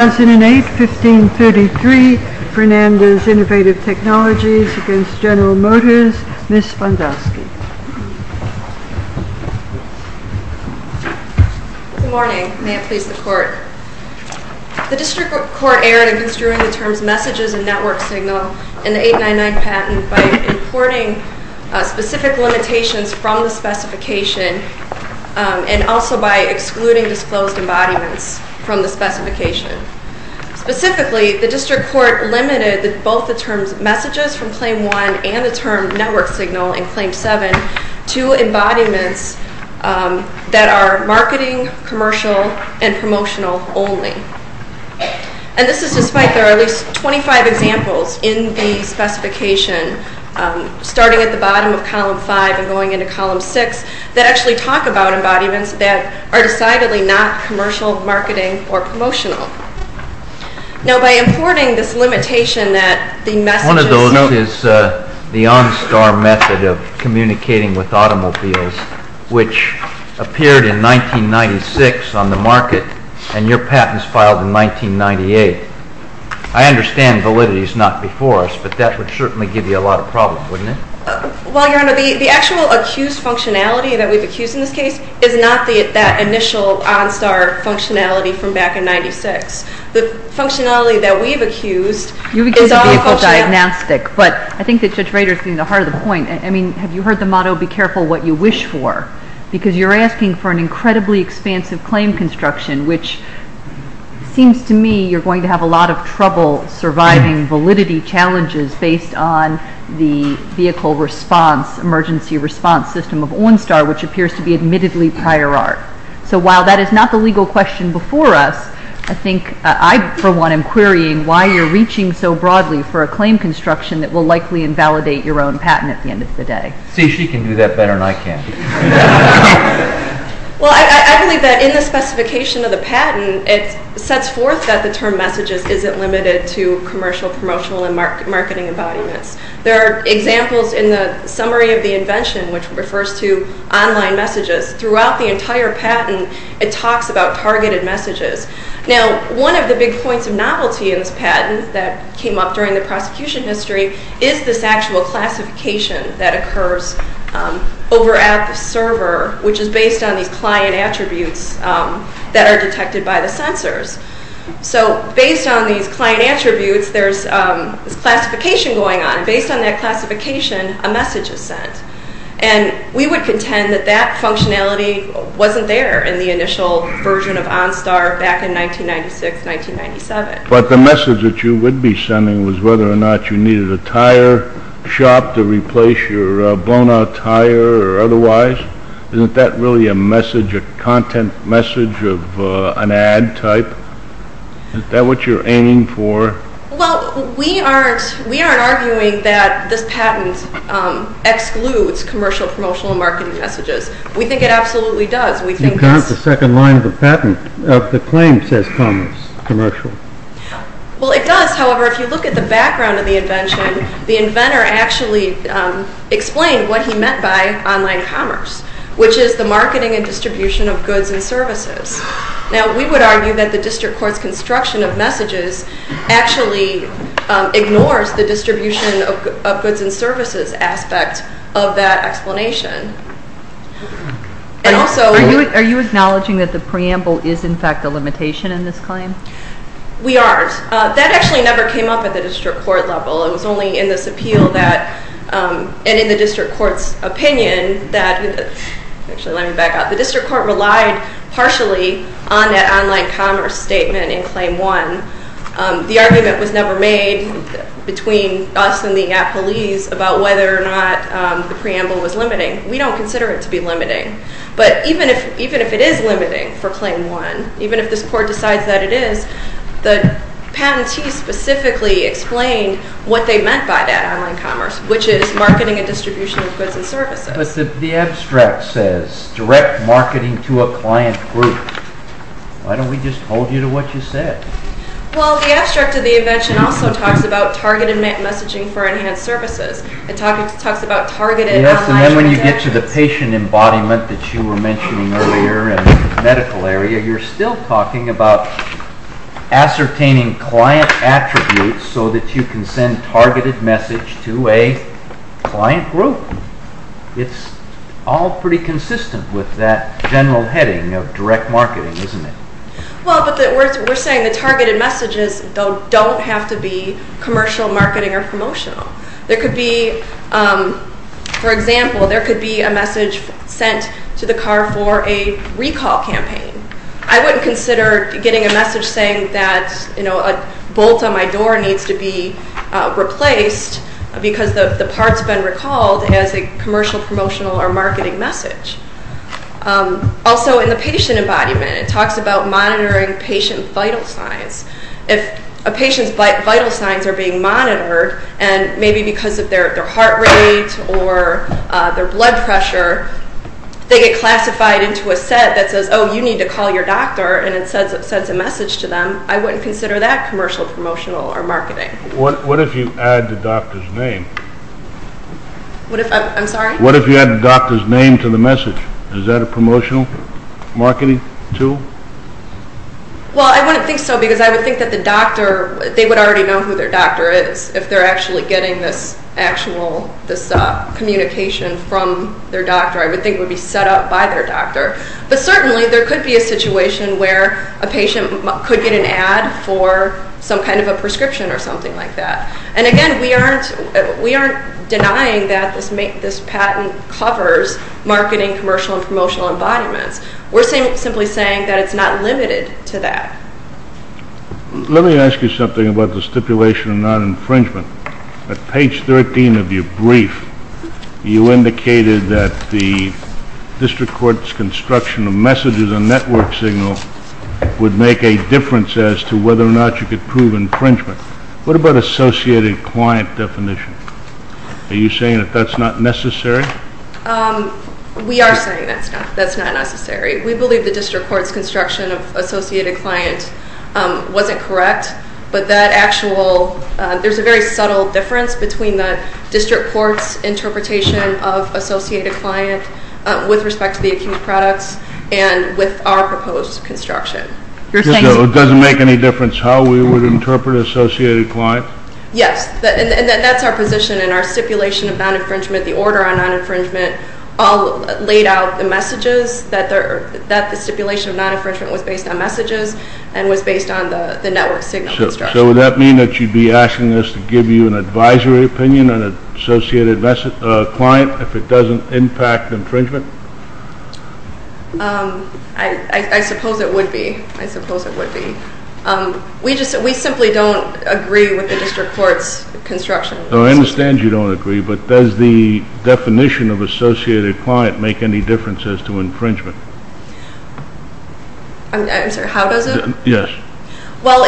2008-1533 Fernandez Innovative Technologies v. General Motors Ms. Spandowski Good morning. May it please the Court. The District Court erred against drawing the terms messages and network signal in the 899 patent by importing specific limitations from the specification and also by Specifically, the District Court limited both the terms messages from Claim 1 and the term network signal in Claim 7 to embodiments that are marketing, commercial, and promotional only. And this is despite there are at least 25 examples in the specification, starting at the bottom of Column 5 and going into Column 6, that actually talk about embodiments that are decidedly not commercial, marketing, or commercial. Now, by importing this limitation that the messages One of those is the OnStar method of communicating with automobiles, which appeared in 1996 on the market and your patents filed in 1998. I understand validity is not before us, but that would certainly give you a lot of problems, wouldn't it? Well, Your Honor, the actual accused functionality that we've accused in this case is not that initial OnStar functionality from back in 1996. The functionality that we've accused is all functionality You've accused of vehicle diagnostic, but I think that Judge Rader's getting to the heart of the point. I mean, have you heard the motto, Be careful what you wish for? Because you're asking for an incredibly expansive claim construction, which seems to me you're going to have a lot of trouble surviving validity challenges based on the vehicle response, emergency response system of OnStar, which appears to be admittedly prior art. So while that is not the legal question before us, I think I, for one, am querying why you're reaching so broadly for a claim construction that will likely invalidate your own patent at the end of the day. See, she can do that better than I can. Well, I believe that in the specification of the patent, it sets forth that the term messages isn't limited to commercial, promotional, and marketing embodiments. There are examples in the summary of the invention, which refers to online messages. Throughout the entire patent, it talks about targeted messages. Now, one of the big points of novelty in this patent that came up during the prosecution history is this actual classification that occurs over at the server, which is based on these client attributes that are detected by the sensors. So based on these client attributes, there's classification going on. And based on that classification, a message is sent. And we would contend that that functionality wasn't there in the initial version of OnStar back in 1996, 1997. But the message that you would be sending was whether or not you needed a tire shop to replace your blown-out tire or otherwise. Isn't that really a message, a content message of an ad type? Is that what you're aiming for? Well, we aren't arguing that this patent excludes commercial, promotional, and marketing messages. We think it absolutely does. We think that's... It's not the second line of the patent. The claim says commercial. Well, it does. However, if you look at the background of the invention, the inventor actually explained what he meant by online commerce, which is the marketing and distribution of goods and services. Now, we would argue that the district court's construction of messages actually ignores the distribution of goods and services aspect of that explanation. And also... Are you acknowledging that the preamble is, in fact, a limitation in this claim? We are. That actually never came up at the district court level. It was only in this appeal that... And in the district court's opinion that... Actually, let me back up. The district court relied partially on that online commerce statement in Claim 1. The argument was never made between us and the police about whether or not the preamble was limiting. We don't consider it to be limiting. But even if it is limiting for Claim 1, even if this court decides that it is, the patentee specifically explained what they meant by that online commerce, which is marketing and distribution of goods and services. But the abstract says, direct marketing to a client group. Why don't we just hold you to what you said? Well, the abstract of the invention also talks about targeted messaging for enhanced services. It talks about targeted online transactions. Yes, and then when you get to the patient embodiment that you were mentioning earlier in the medical area, you're still talking about ascertaining client attributes so that you can send targeted message to a client group. It's all pretty consistent with that general heading of direct marketing, isn't it? Well, but we're saying that targeted messages don't have to be commercial, marketing, or promotional. There could be, for example, there could be a message sent to the car for a recall campaign. I wouldn't consider getting a message saying that, you know, a bolt on my door needs to be replaced because the part's been recalled as a commercial, promotional, or marketing message. Also in the patient embodiment, it talks about monitoring patient vital signs. If a patient's vital signs are being monitored, and maybe because of their heart rate or their blood pressure, they get classified into a set that says, oh, you need to call your doctor, and it sends a message to them. I wouldn't consider that commercial, promotional, or marketing. What if you add the doctor's name? I'm sorry? What if you add the doctor's name to the message? Is that a promotional marketing tool? Well, I wouldn't think so because I would think that the doctor, they would already know who their doctor is if they're actually getting this actual, this communication from their doctor. I would think it would be set up by their doctor. But certainly there could be a situation where a patient could get an ad for some kind of a prescription or something like that. And again, we aren't denying that this patent covers marketing, commercial, and promotional embodiments. We're simply saying that it's not limited to that. Let me ask you something about the stipulation of non-infringement. At page 13 of your brief, you indicated that the district court's construction of messages and network signals would make a difference as to whether or not you could prove infringement. What about associated client definition? Are you saying that that's not necessary? We are saying that's not necessary. We believe the district court's construction of associated client wasn't correct, but there's a very subtle difference between the district court's interpretation of associated client with respect to the acute products and with our proposed construction. It doesn't make any difference how we would interpret associated client? Yes, and that's our position in our stipulation of non-infringement. The order on non-infringement all laid out the messages that the stipulation of non-infringement was based on messages and was based on the network signal construction. So would that mean that you'd be asking us to give you an advisory opinion on an associated client if it doesn't impact infringement? I suppose it would be. I suppose it would be. We simply don't agree with the district court's construction. I understand you don't agree, but does the definition of associated client make any difference as to infringement? I'm sorry, how does it? Yes. Well,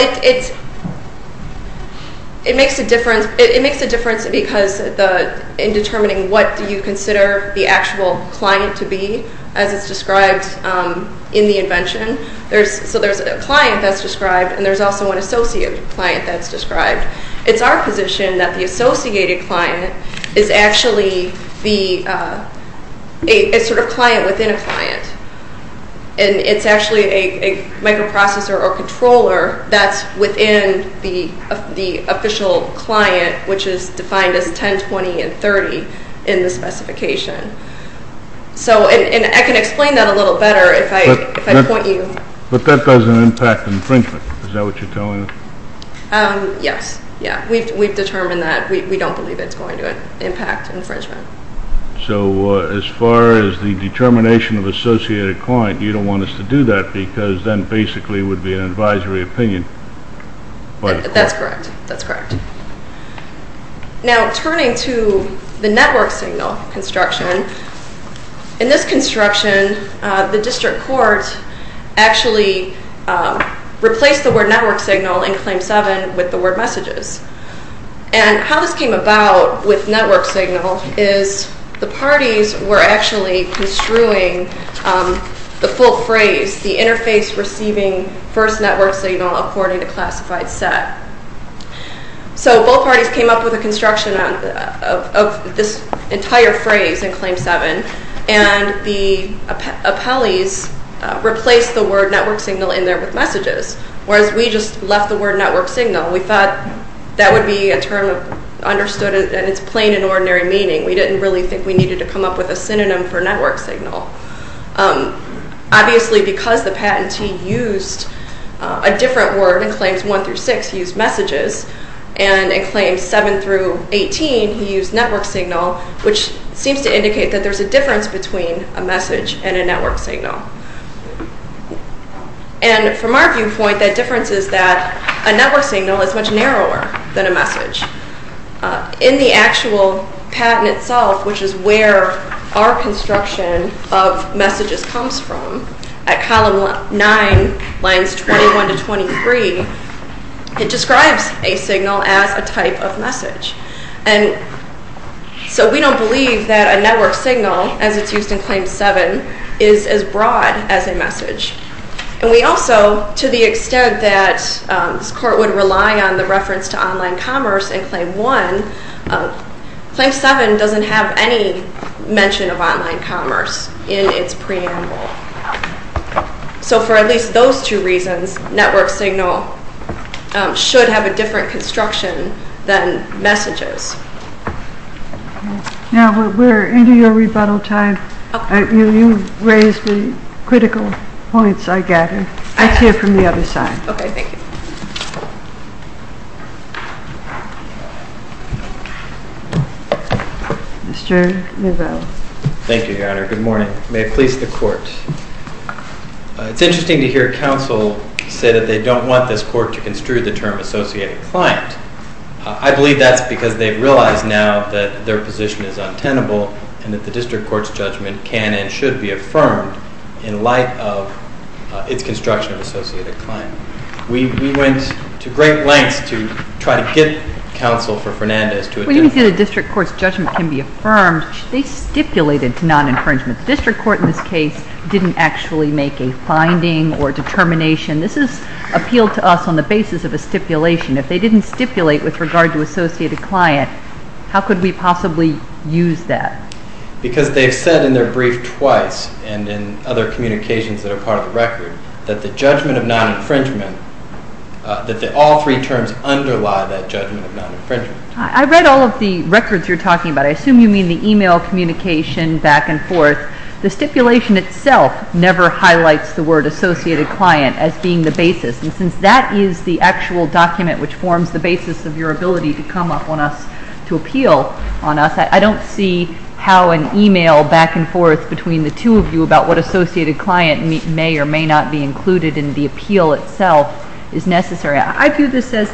it makes a difference because in determining what you consider the actual client to be, as it's described in the invention, so there's a client that's described, and there's also an associate client that's described. It's our position that the associated client is actually a sort of client within a client, and it's actually a microprocessor or controller that's within the official client, which is defined as 10, 20, and 30 in the specification. And I can explain that a little better if I point you. But that doesn't impact infringement. Is that what you're telling us? Yes. Yeah, we've determined that. We don't believe it's going to impact infringement. So as far as the determination of associated client, you don't want us to do that because then basically it would be an advisory opinion. That's correct. That's correct. Now, turning to the network signal construction, in this construction, the district court actually replaced the word network signal in Claim 7 with the word messages. And how this came about with network signal is the parties were actually construing the full phrase, the interface receiving first network signal according to classified set. So both parties came up with a construction of this entire phrase in Claim 7, and the appellees replaced the word network signal in there with messages, whereas we just left the word network signal. We thought that would be a term understood in its plain and ordinary meaning. We didn't really think we needed to come up with a synonym for network signal. Obviously, because the patentee used a different word in Claims 1 through 6, he used messages, and in Claims 7 through 18, he used network signal, which seems to indicate that there's a difference between a message and a network signal. And from our viewpoint, that difference is that a network signal is much narrower than a message. In the actual patent itself, which is where our construction of messages comes from, at Column 9, Lines 21 to 23, it describes a signal as a type of message. And so we don't believe that a network signal, as it's used in Claim 7, is as broad as a message. And we also, to the extent that this Court would rely on the reference to online commerce in Claim 1, Claim 7 doesn't have any mention of online commerce in its preamble. So for at least those two reasons, network signal should have a different construction than messages. Now we're into your rebuttal time. You raised the critical points I gathered. Let's hear from the other side. Okay, thank you. Mr. Nivelle. Thank you, Your Honor. Good morning. May it please the Court. It's interesting to hear counsel say that they don't want this Court to construe the term associated client. I believe that's because they've realized now that their position is untenable and that the District Court's judgment can and should be affirmed in light of its construction of associated client. We went to great lengths to try to get counsel for Fernandez to adopt it. When you say the District Court's judgment can be affirmed, they stipulated non-infringement. The District Court in this case didn't actually make a finding or determination. This is appealed to us on the basis of a stipulation. If they didn't stipulate with regard to associated client, how could we possibly use that? Because they've said in their brief twice and in other communications that are part of the record that the judgment of non-infringement, that all three terms underlie that judgment of non-infringement. I read all of the records you're talking about. I assume you mean the e-mail communication back and forth. The stipulation itself never highlights the word associated client as being the basis. And since that is the actual document which forms the basis of your ability to come up on us, to appeal on us, I don't see how an e-mail back and forth between the two of you about what associated client may or may not be included in the appeal itself is necessary. I view this as,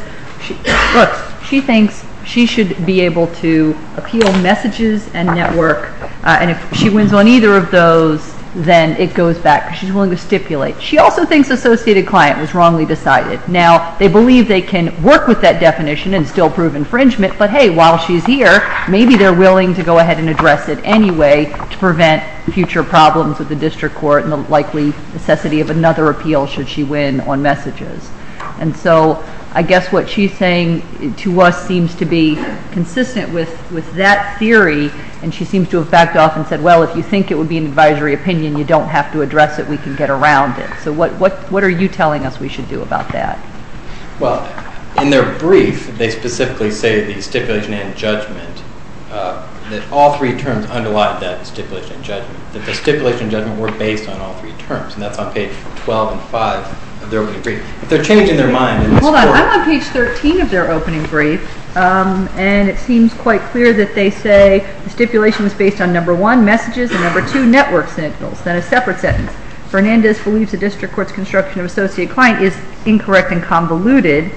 look, she thinks she should be able to appeal messages and network. And if she wins on either of those, then it goes back. She's willing to stipulate. She also thinks associated client was wrongly decided. Now, they believe they can work with that definition and still prove infringement. But, hey, while she's here, maybe they're willing to go ahead and address it anyway to prevent future problems with the District Court and the likely necessity of another appeal should she win on messages. And so I guess what she's saying to us seems to be consistent with that theory. And she seems to have backed off and said, well, if you think it would be an advisory opinion, you don't have to address it. We can get around it. So what are you telling us we should do about that? Well, in their brief, they specifically say the stipulation and judgment, that all three terms underlie that stipulation and judgment, that the stipulation and judgment were based on all three terms. And that's on page 12 and 5 of their opening brief. They're changing their mind. Hold on. I'm on page 13 of their opening brief. And it seems quite clear that they say the stipulation was based on, number one, messages, and, number two, network signals. Then a separate sentence. Fernandez believes the District Court's construction of associate client is incorrect and convoluted.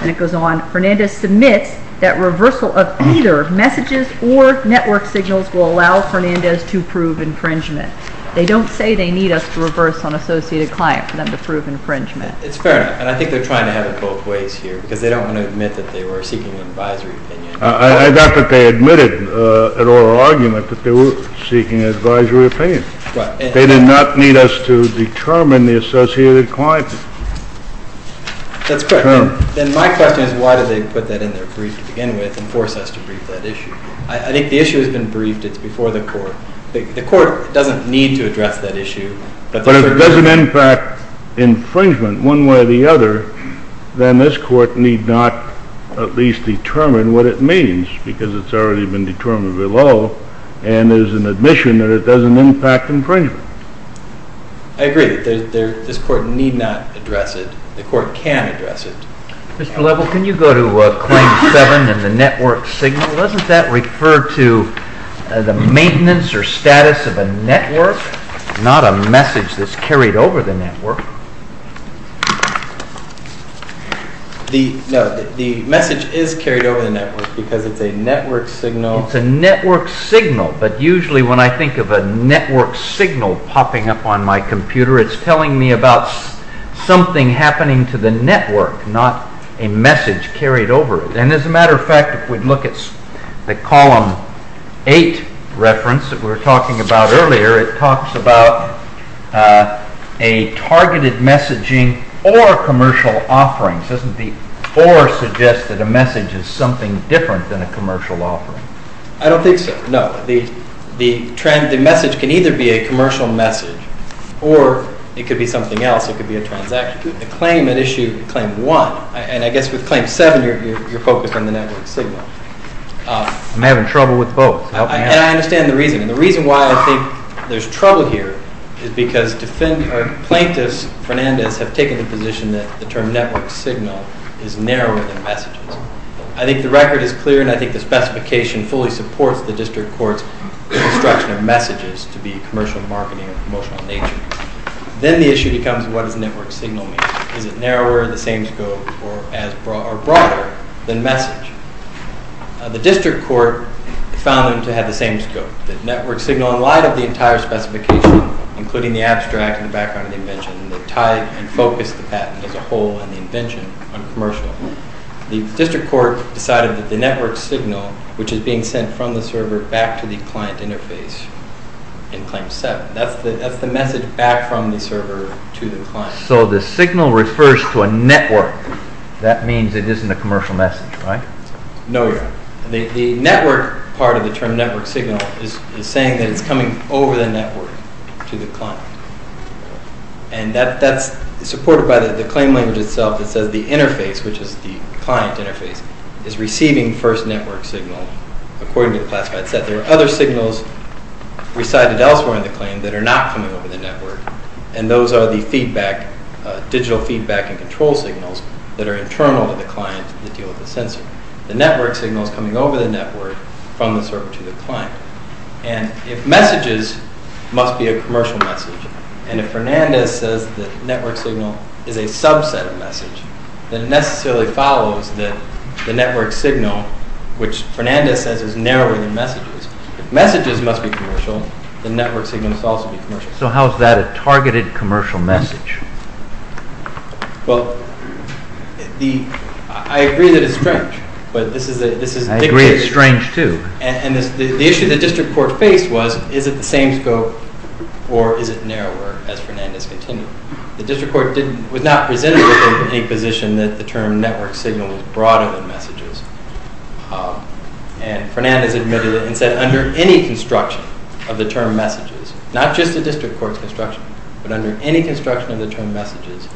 And it goes on, Fernandez submits that reversal of either messages or network signals will allow Fernandez to prove infringement. They don't say they need us to reverse on associated client for them to prove infringement. It's fair enough. And I think they're trying to have it both ways here because they don't want to admit that they were seeking an advisory opinion. I doubt that they admitted at oral argument that they were seeking an advisory opinion. They did not need us to determine the associated client. That's correct. Then my question is why did they put that in their brief to begin with and force us to brief that issue? I think the issue has been briefed. It's before the Court. The Court doesn't need to address that issue. But if it doesn't impact infringement one way or the other, then this Court need not at least determine what it means because it's already been determined below and there's an admission that it doesn't impact infringement. I agree that this Court need not address it. The Court can address it. Mr. Lebel, can you go to Claim 7 and the network signal? Doesn't that refer to the maintenance or status of a network, not a message that's carried over the network? The message is carried over the network because it's a network signal. It's a network signal, but usually when I think of a network signal popping up on my computer, it's telling me about something happening to the network, not a message carried over it. As a matter of fact, if we look at the Column 8 reference that we were talking about earlier, it talks about a targeted messaging or commercial offerings. Doesn't the or suggest that a message is something different than a commercial offering? I don't think so, no. The message can either be a commercial message or it could be something else. It could be a transaction. The claim at issue Claim 1, and I guess with Claim 7 you're focused on the network signal. I'm having trouble with both. I understand the reason. The reason why I think there's trouble here is because plaintiffs, Fernandez, have taken the position that the term network signal is narrower than messages. I think the record is clear and I think the specification fully supports the District Court's construction of messages to be commercial marketing of a promotional nature. Then the issue becomes what does network signal mean? Is it narrower in the same scope or broader than message? The District Court found them to have the same scope. The network signal, in light of the entire specification, including the abstract and the background of the invention, that tied and focused the patent as a whole and the invention on commercial, the District Court decided that the network signal, which is being sent from the server back to the client interface in Claim 7, that's the message back from the server to the client. So the signal refers to a network. That means it isn't a commercial message, right? No, Your Honor. The network part of the term network signal is saying that it's coming over the network to the client. And that's supported by the claim language itself that says the interface, which is the client interface, is receiving first network signal, according to the classified set. that are not coming over the network, and those are the digital feedback and control signals that are internal to the client that deal with the sensor. The network signal is coming over the network from the server to the client. And if messages must be a commercial message, and if Fernandez says the network signal is a subset of message, then it necessarily follows that the network signal, which Fernandez says is narrower than messages, if messages must be commercial, the network signal must also be commercial. So how is that a targeted commercial message? Well, I agree that it's strange. I agree it's strange, too. And the issue the district court faced was is it the same scope or is it narrower, as Fernandez continued. The district court was not resentful of any position that the term network signal was broader than messages. And Fernandez admitted it and said under any construction of the term messages, not just the district court's construction, but under any construction of the term messages,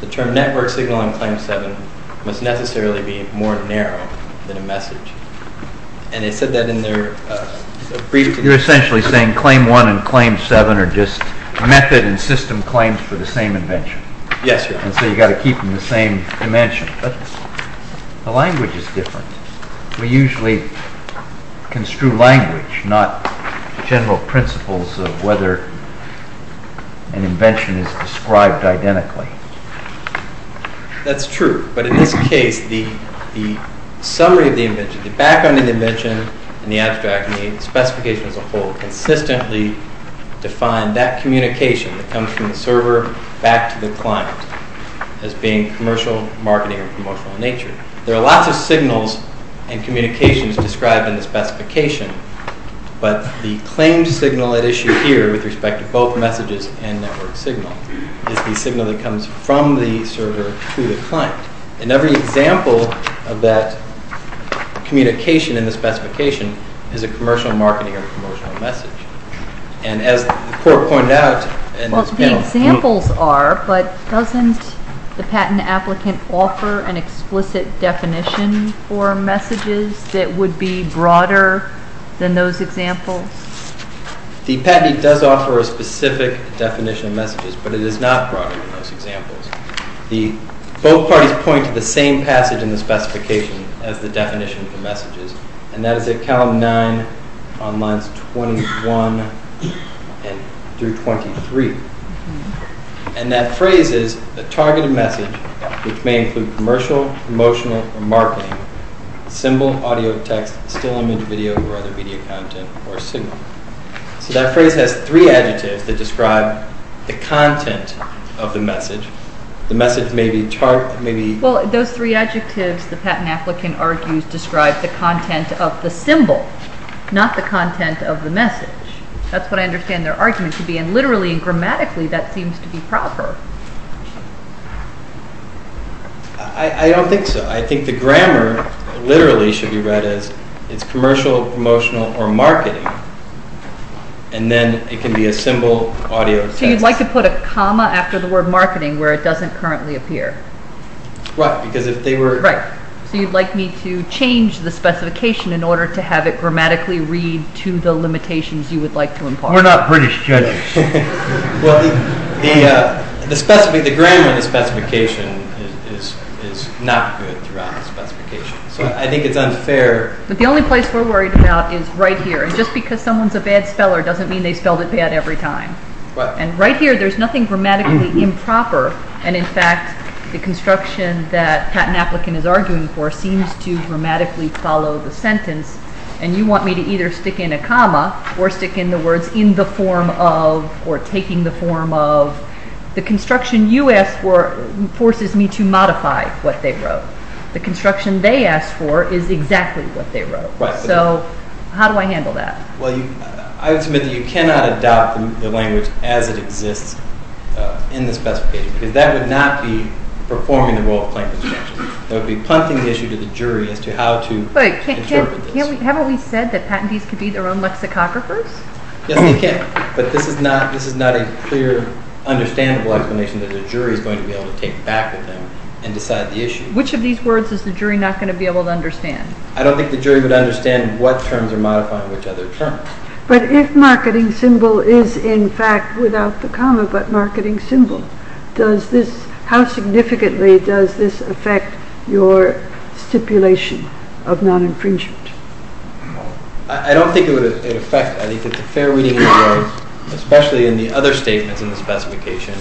the term network signal on claim 7 must necessarily be more narrow than a message. And they said that in their brief. You're essentially saying claim 1 and claim 7 are just method and system claims for the same invention. Yes. And so you've got to keep them the same dimension. But the language is different. We usually construe language, not general principles of whether an invention is described identically. That's true. But in this case, the summary of the invention, the background of the invention, and the abstract, and the specification as a whole, consistently define that communication that comes from the server back to the client as being commercial, marketing, or promotional in nature. There are lots of signals and communications described in the specification. But the claimed signal at issue here with respect to both messages and network signal is the signal that comes from the server to the client. And every example of that communication in the specification is a commercial marketing or commercial message. And as the court pointed out, and this panel... Well, the examples are, but doesn't the patent applicant offer an explicit definition for messages that would be broader than those examples? The patent does offer a specific definition of messages, but it is not broader than those examples. Both parties point to the same passage in the specification as the definition of the messages, and that is at column 9 on lines 21 through 23. And that phrase is, a targeted message, which may include commercial, promotional, or marketing, symbol, audio, text, still image, video, or other media content, or signal. So that phrase has three adjectives that describe the content of the message. The message may be... Well, those three adjectives, the patent applicant argues, describe the content of the symbol, not the content of the message. That's what I understand their argument to be. And literally and grammatically, that seems to be proper. I don't think so. I think the grammar literally should be read as, it's commercial, promotional, or marketing, and then it can be a symbol, audio, text. So you'd like to put a comma after the word marketing where it doesn't currently appear. Right, because if they were... Right, so you'd like me to change the specification in order to have it grammatically read to the limitations you would like to impart. We're not British judges. Well, the grammar of the specification is not good throughout the specification. So I think it's unfair. But the only place we're worried about is right here. And just because someone's a bad speller doesn't mean they spelled it bad every time. And right here, there's nothing grammatically improper. And in fact, the construction that a patent applicant is arguing for seems to grammatically follow the sentence. And you want me to either stick in a comma or stick in the words in the form of, or taking the form of. The construction you asked for forces me to modify what they wrote. The construction they asked for is exactly what they wrote. So how do I handle that? Well, I would submit that you cannot adopt the language as it exists in the specification because that would not be performing the role of plain construction. That would be punting the issue to the jury as to how to interpret this. Haven't we said that patentees can be their own lexicographers? Yes, they can. But this is not a clear, understandable explanation that a jury is going to be able to take back with them and decide the issue. Which of these words is the jury not going to be able to understand? I don't think the jury would understand what terms are modifying which other terms. But if marketing symbol is in fact without the comma but marketing symbol, how significantly does this affect your stipulation of non-infringement? I don't think it would affect it. I think it's a fair reading of words, especially in the other statements in the specification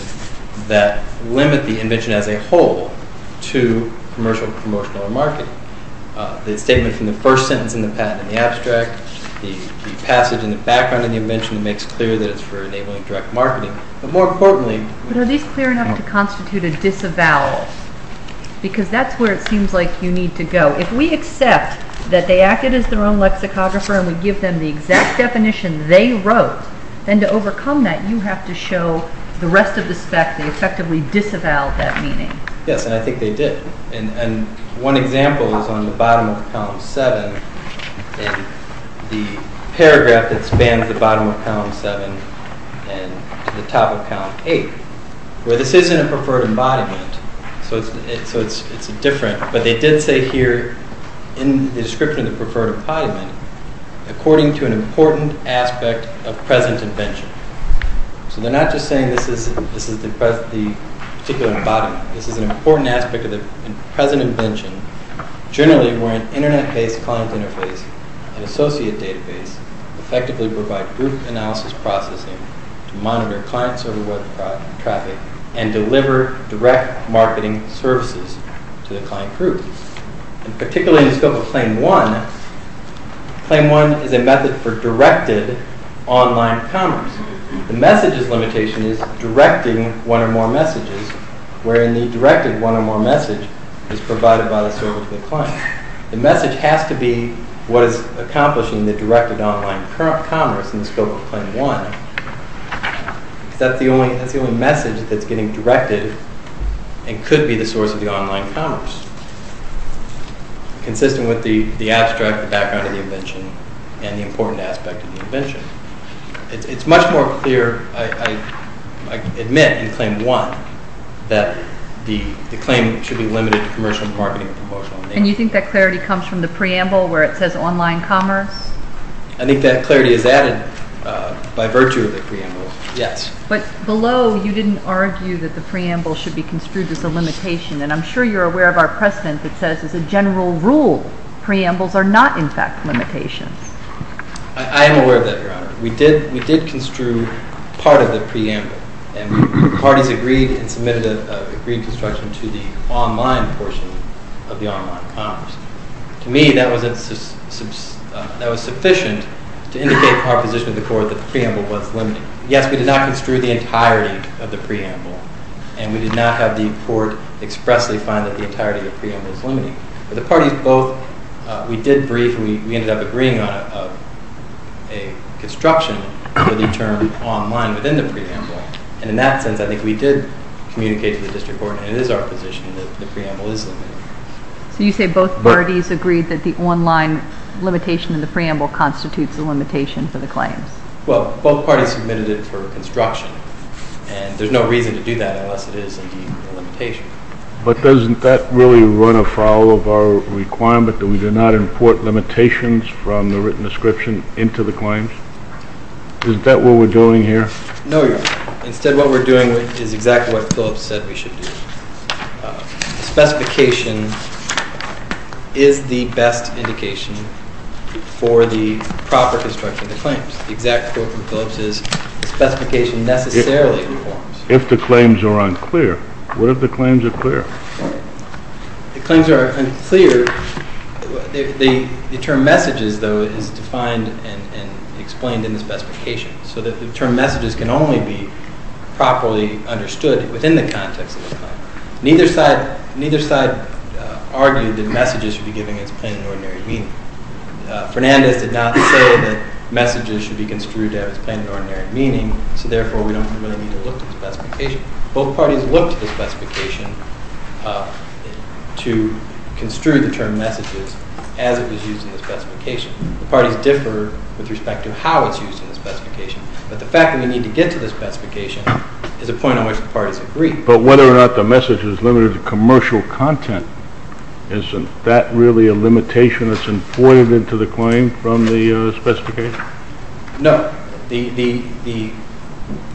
that limit the invention as a whole to commercial, promotional, or marketing. The statement from the first sentence in the patent in the abstract, the passage in the background in the invention makes clear that it's for enabling direct marketing. But more importantly... But are these clear enough to constitute a disavowal? Because that's where it seems like you need to go. If we accept that they acted as their own lexicographer and we give them the exact definition they wrote, then to overcome that you have to show the rest of the spec they effectively disavowed that meaning. Yes, and I think they did. And one example is on the bottom of column 7 in the paragraph that spans the bottom of column 7 and the top of column 8, where this isn't a preferred embodiment. So it's different. But they did say here, in the description of the preferred embodiment, according to an important aspect of present invention. So they're not just saying this is the particular embodiment. This is an important aspect of the present invention, generally where an Internet-based client interface and associate database effectively provide group analysis processing to monitor client-server web traffic and deliver direct marketing services to the client group. And particularly in the scope of Claim 1, Claim 1 is a method for directed online commerce. The message's limitation is directing one or more messages, wherein the directed one or more message is provided by the server to the client. The message has to be what is accomplishing the directed online commerce in the scope of Claim 1. That's the only message that's getting directed and could be the source of the online commerce, consistent with the abstract background of the invention and the important aspect of the invention. It's much more clear, I admit, in Claim 1, that the claim should be limited to commercial marketing and promotional. And you think that clarity comes from the preamble where it says online commerce? I think that clarity is added by virtue of the preamble, yes. But below, you didn't argue that the preamble should be construed as a limitation. And I'm sure you're aware of our precedent that says as a general rule, preambles are not, in fact, limitations. I am aware of that, Your Honor. We did construe part of the preamble. And parties agreed and submitted an agreed construction to the online portion of the online commerce. To me, that was sufficient to indicate to our position in the court that the preamble was limited. Yes, we did not construe the entirety of the preamble, and we did not have the court expressly find that the entirety of the preamble is limited. But the parties both, we did brief, and we ended up agreeing on a construction for the term online within the preamble. And in that sense, I think we did communicate to the district court, and it is our position, that the preamble is limited. So you say both parties agreed that the online limitation in the preamble constitutes a limitation for the claims? Well, both parties submitted it for construction, and there's no reason to do that unless it is, indeed, a limitation. But doesn't that really run afoul of our requirement that we do not import limitations from the written description into the claims? Isn't that what we're doing here? No, Your Honor. Instead, what we're doing is exactly what Phillips said we should do. The specification is the best indication for the proper construction of the claims. The exact quote from Phillips is, the specification necessarily reforms. If the claims are unclear, what if the claims are clear? If the claims are unclear, the term messages, though, is defined and explained in the specification, so that the term messages can only be properly understood within the context of the claim. Neither side argued that messages should be given its plain and ordinary meaning. Fernandez did not say that messages should be construed to have its plain and ordinary meaning, so therefore we don't really need to look at the specification. Both parties looked at the specification to construe the term messages as it was used in the specification. The parties differ with respect to how it's used in the specification, but the fact that we need to get to the specification is a point on which the parties agree. But whether or not the message is limited to commercial content, isn't that really a limitation that's employed into the claim from the specification? No. The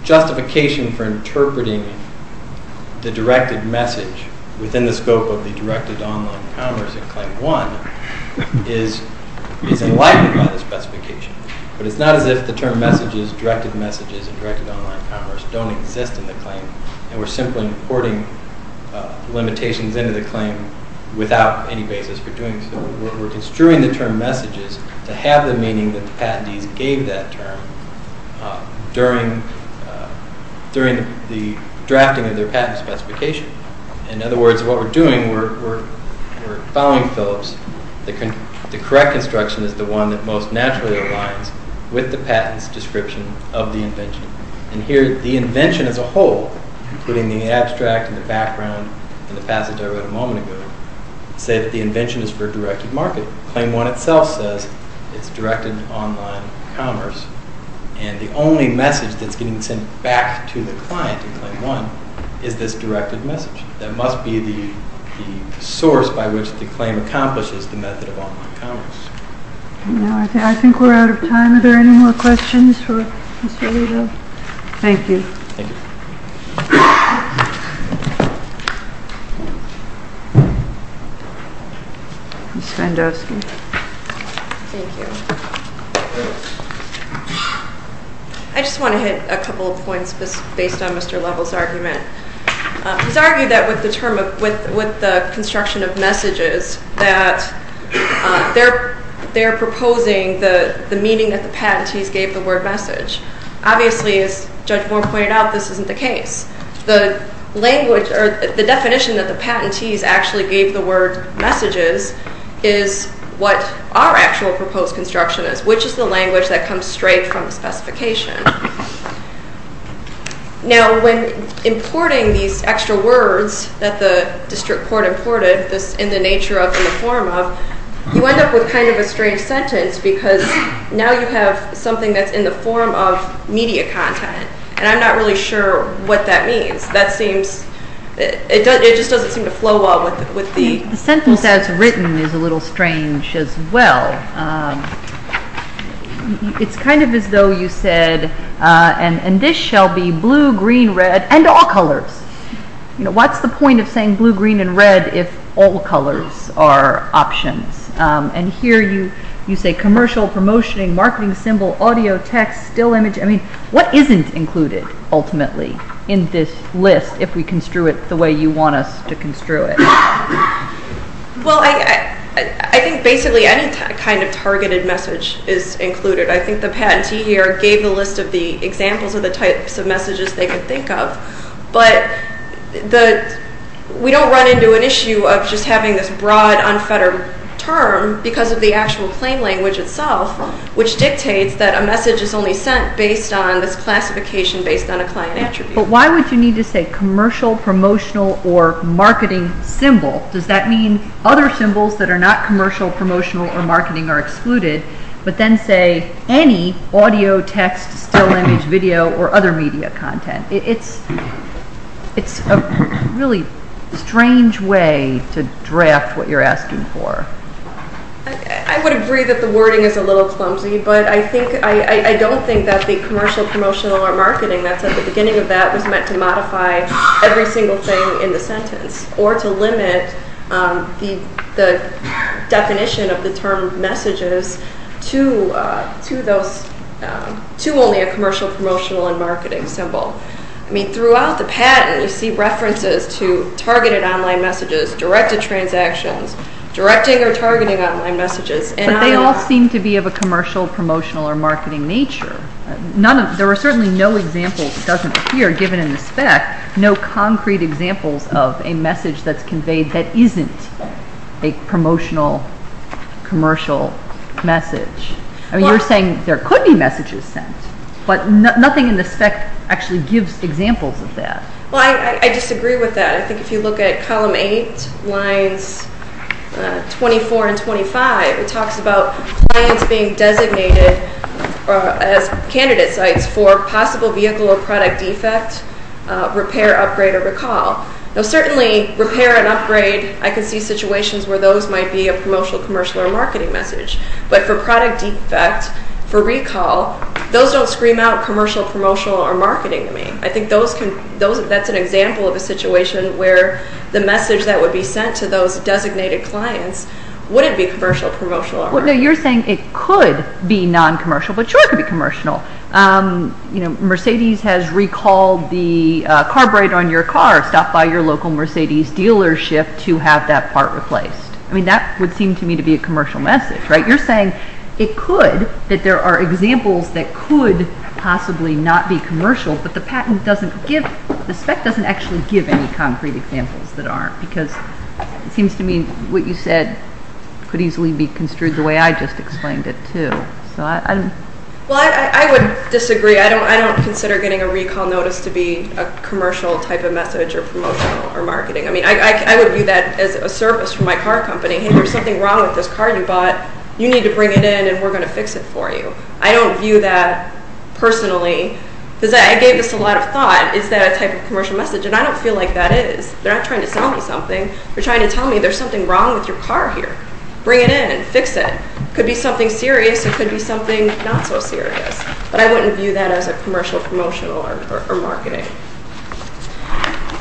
justification for interpreting the directed message within the scope of the directed online commerce in Claim 1 is enlightened by the specification, but it's not as if the term messages, directed messages, and directed online commerce don't exist in the claim, and we're simply importing limitations into the claim without any basis for doing so. We're construing the term messages to have the meaning that the patentees gave that term during the drafting of their patent specification. In other words, what we're doing, we're following Phillips. The correct instruction is the one that most naturally aligns with the patent's description of the invention. And here, the invention as a whole, including the abstract and the background and the passage I read a moment ago, say that the invention is for a directed market. Claim 1 itself says it's directed online commerce, and the only message that's getting sent back to the client in Claim 1 is this directed message. That must be the source by which the claim accomplishes the method of online commerce. I think we're out of time. Are there any more questions for Mr. Lido? Thank you. Thank you. Ms. Fandosky. Thank you. I just want to hit a couple of points based on Mr. Lovell's argument. He's argued that with the construction of messages, that they're proposing the meaning that the patentees gave the word message. Obviously, as Judge Moore pointed out, this isn't the case. The definition that the patentees actually gave the word messages is what our actual proposed construction is, which is the language that comes straight from the specification. Now, when importing these extra words that the district court imported, this in the nature of, in the form of, you end up with kind of a strange sentence because now you have something that's in the form of media content. And I'm not really sure what that means. It just doesn't seem to flow well with the sentence. The sentence as written is a little strange as well. It's kind of as though you said, and this shall be blue, green, red, and all colors. What's the point of saying blue, green, and red if all colors are options? And here you say commercial, promotioning, marketing symbol, audio, text, still image. I mean, what isn't included ultimately in this list if we construe it the way you want us to construe it? Well, I think basically any kind of targeted message is included. I think the patentee here gave a list of the examples of the types of messages they could think of. But we don't run into an issue of just having this broad, unfettered term because of the actual claim language itself, which dictates that a message is only sent based on this classification based on a client attribute. But why would you need to say commercial, promotional, or marketing symbol? Does that mean other symbols that are not commercial, promotional, or marketing are excluded, but then say any audio, text, still image, video, or other media content? It's a really strange way to draft what you're asking for. I would agree that the wording is a little clumsy, but I don't think that the commercial, promotional, or marketing that's at the beginning of that was meant to modify every single thing in the sentence or to limit the definition of the term messages to only a commercial, promotional, and marketing symbol. Throughout the patent, you see references to targeted online messages, directed transactions, directing or targeting online messages. But they all seem to be of a commercial, promotional, or marketing nature. There are certainly no examples, it doesn't appear, given in the spec, no concrete examples of a message that's conveyed that isn't a promotional, commercial message. You're saying there could be messages sent, but nothing in the spec actually gives examples of that. I disagree with that. I think if you look at column 8, lines 24 and 25, it talks about clients being designated as candidate sites for possible vehicle or product defect, repair, upgrade, or recall. Certainly, repair and upgrade, I can see situations where those might be a promotional, commercial, or marketing message. But for product defect, for recall, those don't scream out commercial, promotional, or marketing to me. I think that's an example of a situation where the message that would be sent to those designated clients wouldn't be commercial, promotional, or marketing. You're saying it could be non-commercial, but sure it could be commercial. Mercedes has recalled the carburetor on your car stopped by your local Mercedes dealership to have that part replaced. That would seem to me to be a commercial message. You're saying it could, that there are examples that could possibly not be commercial, but the spec doesn't actually give any concrete examples that aren't. It seems to me what you said could easily be construed the way I just explained it, too. I would disagree. I don't consider getting a recall notice to be a commercial type of message or promotional or marketing. I would view that as a service from my car company. Hey, there's something wrong with this car you bought. You need to bring it in, and we're going to fix it for you. I don't view that personally. I gave this a lot of thought. Is that a type of commercial message? I don't feel like that is. They're not trying to sell me something. They're trying to tell me there's something wrong with your car here. Bring it in. Fix it. It could be something serious. It could be something not so serious. But I wouldn't view that as a commercial, promotional, or marketing.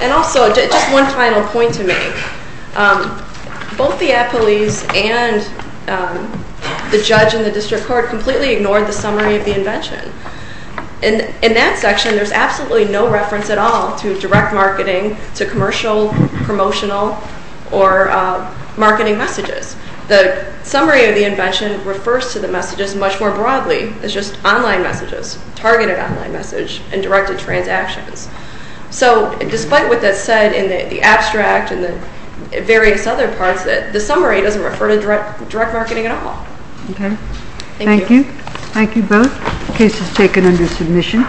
And also, just one final point to make. Both the appellees and the judge and the district court completely ignored the summary of the invention. In that section, there's absolutely no reference at all to direct marketing, to commercial, promotional, or marketing messages. The summary of the invention refers to the messages much more broadly. It's just online messages, targeted online messages, and directed transactions. So despite what that said in the abstract and the various other parts, the summary doesn't refer to direct marketing at all. Okay. Thank you. Thank you both. The case is taken under submission.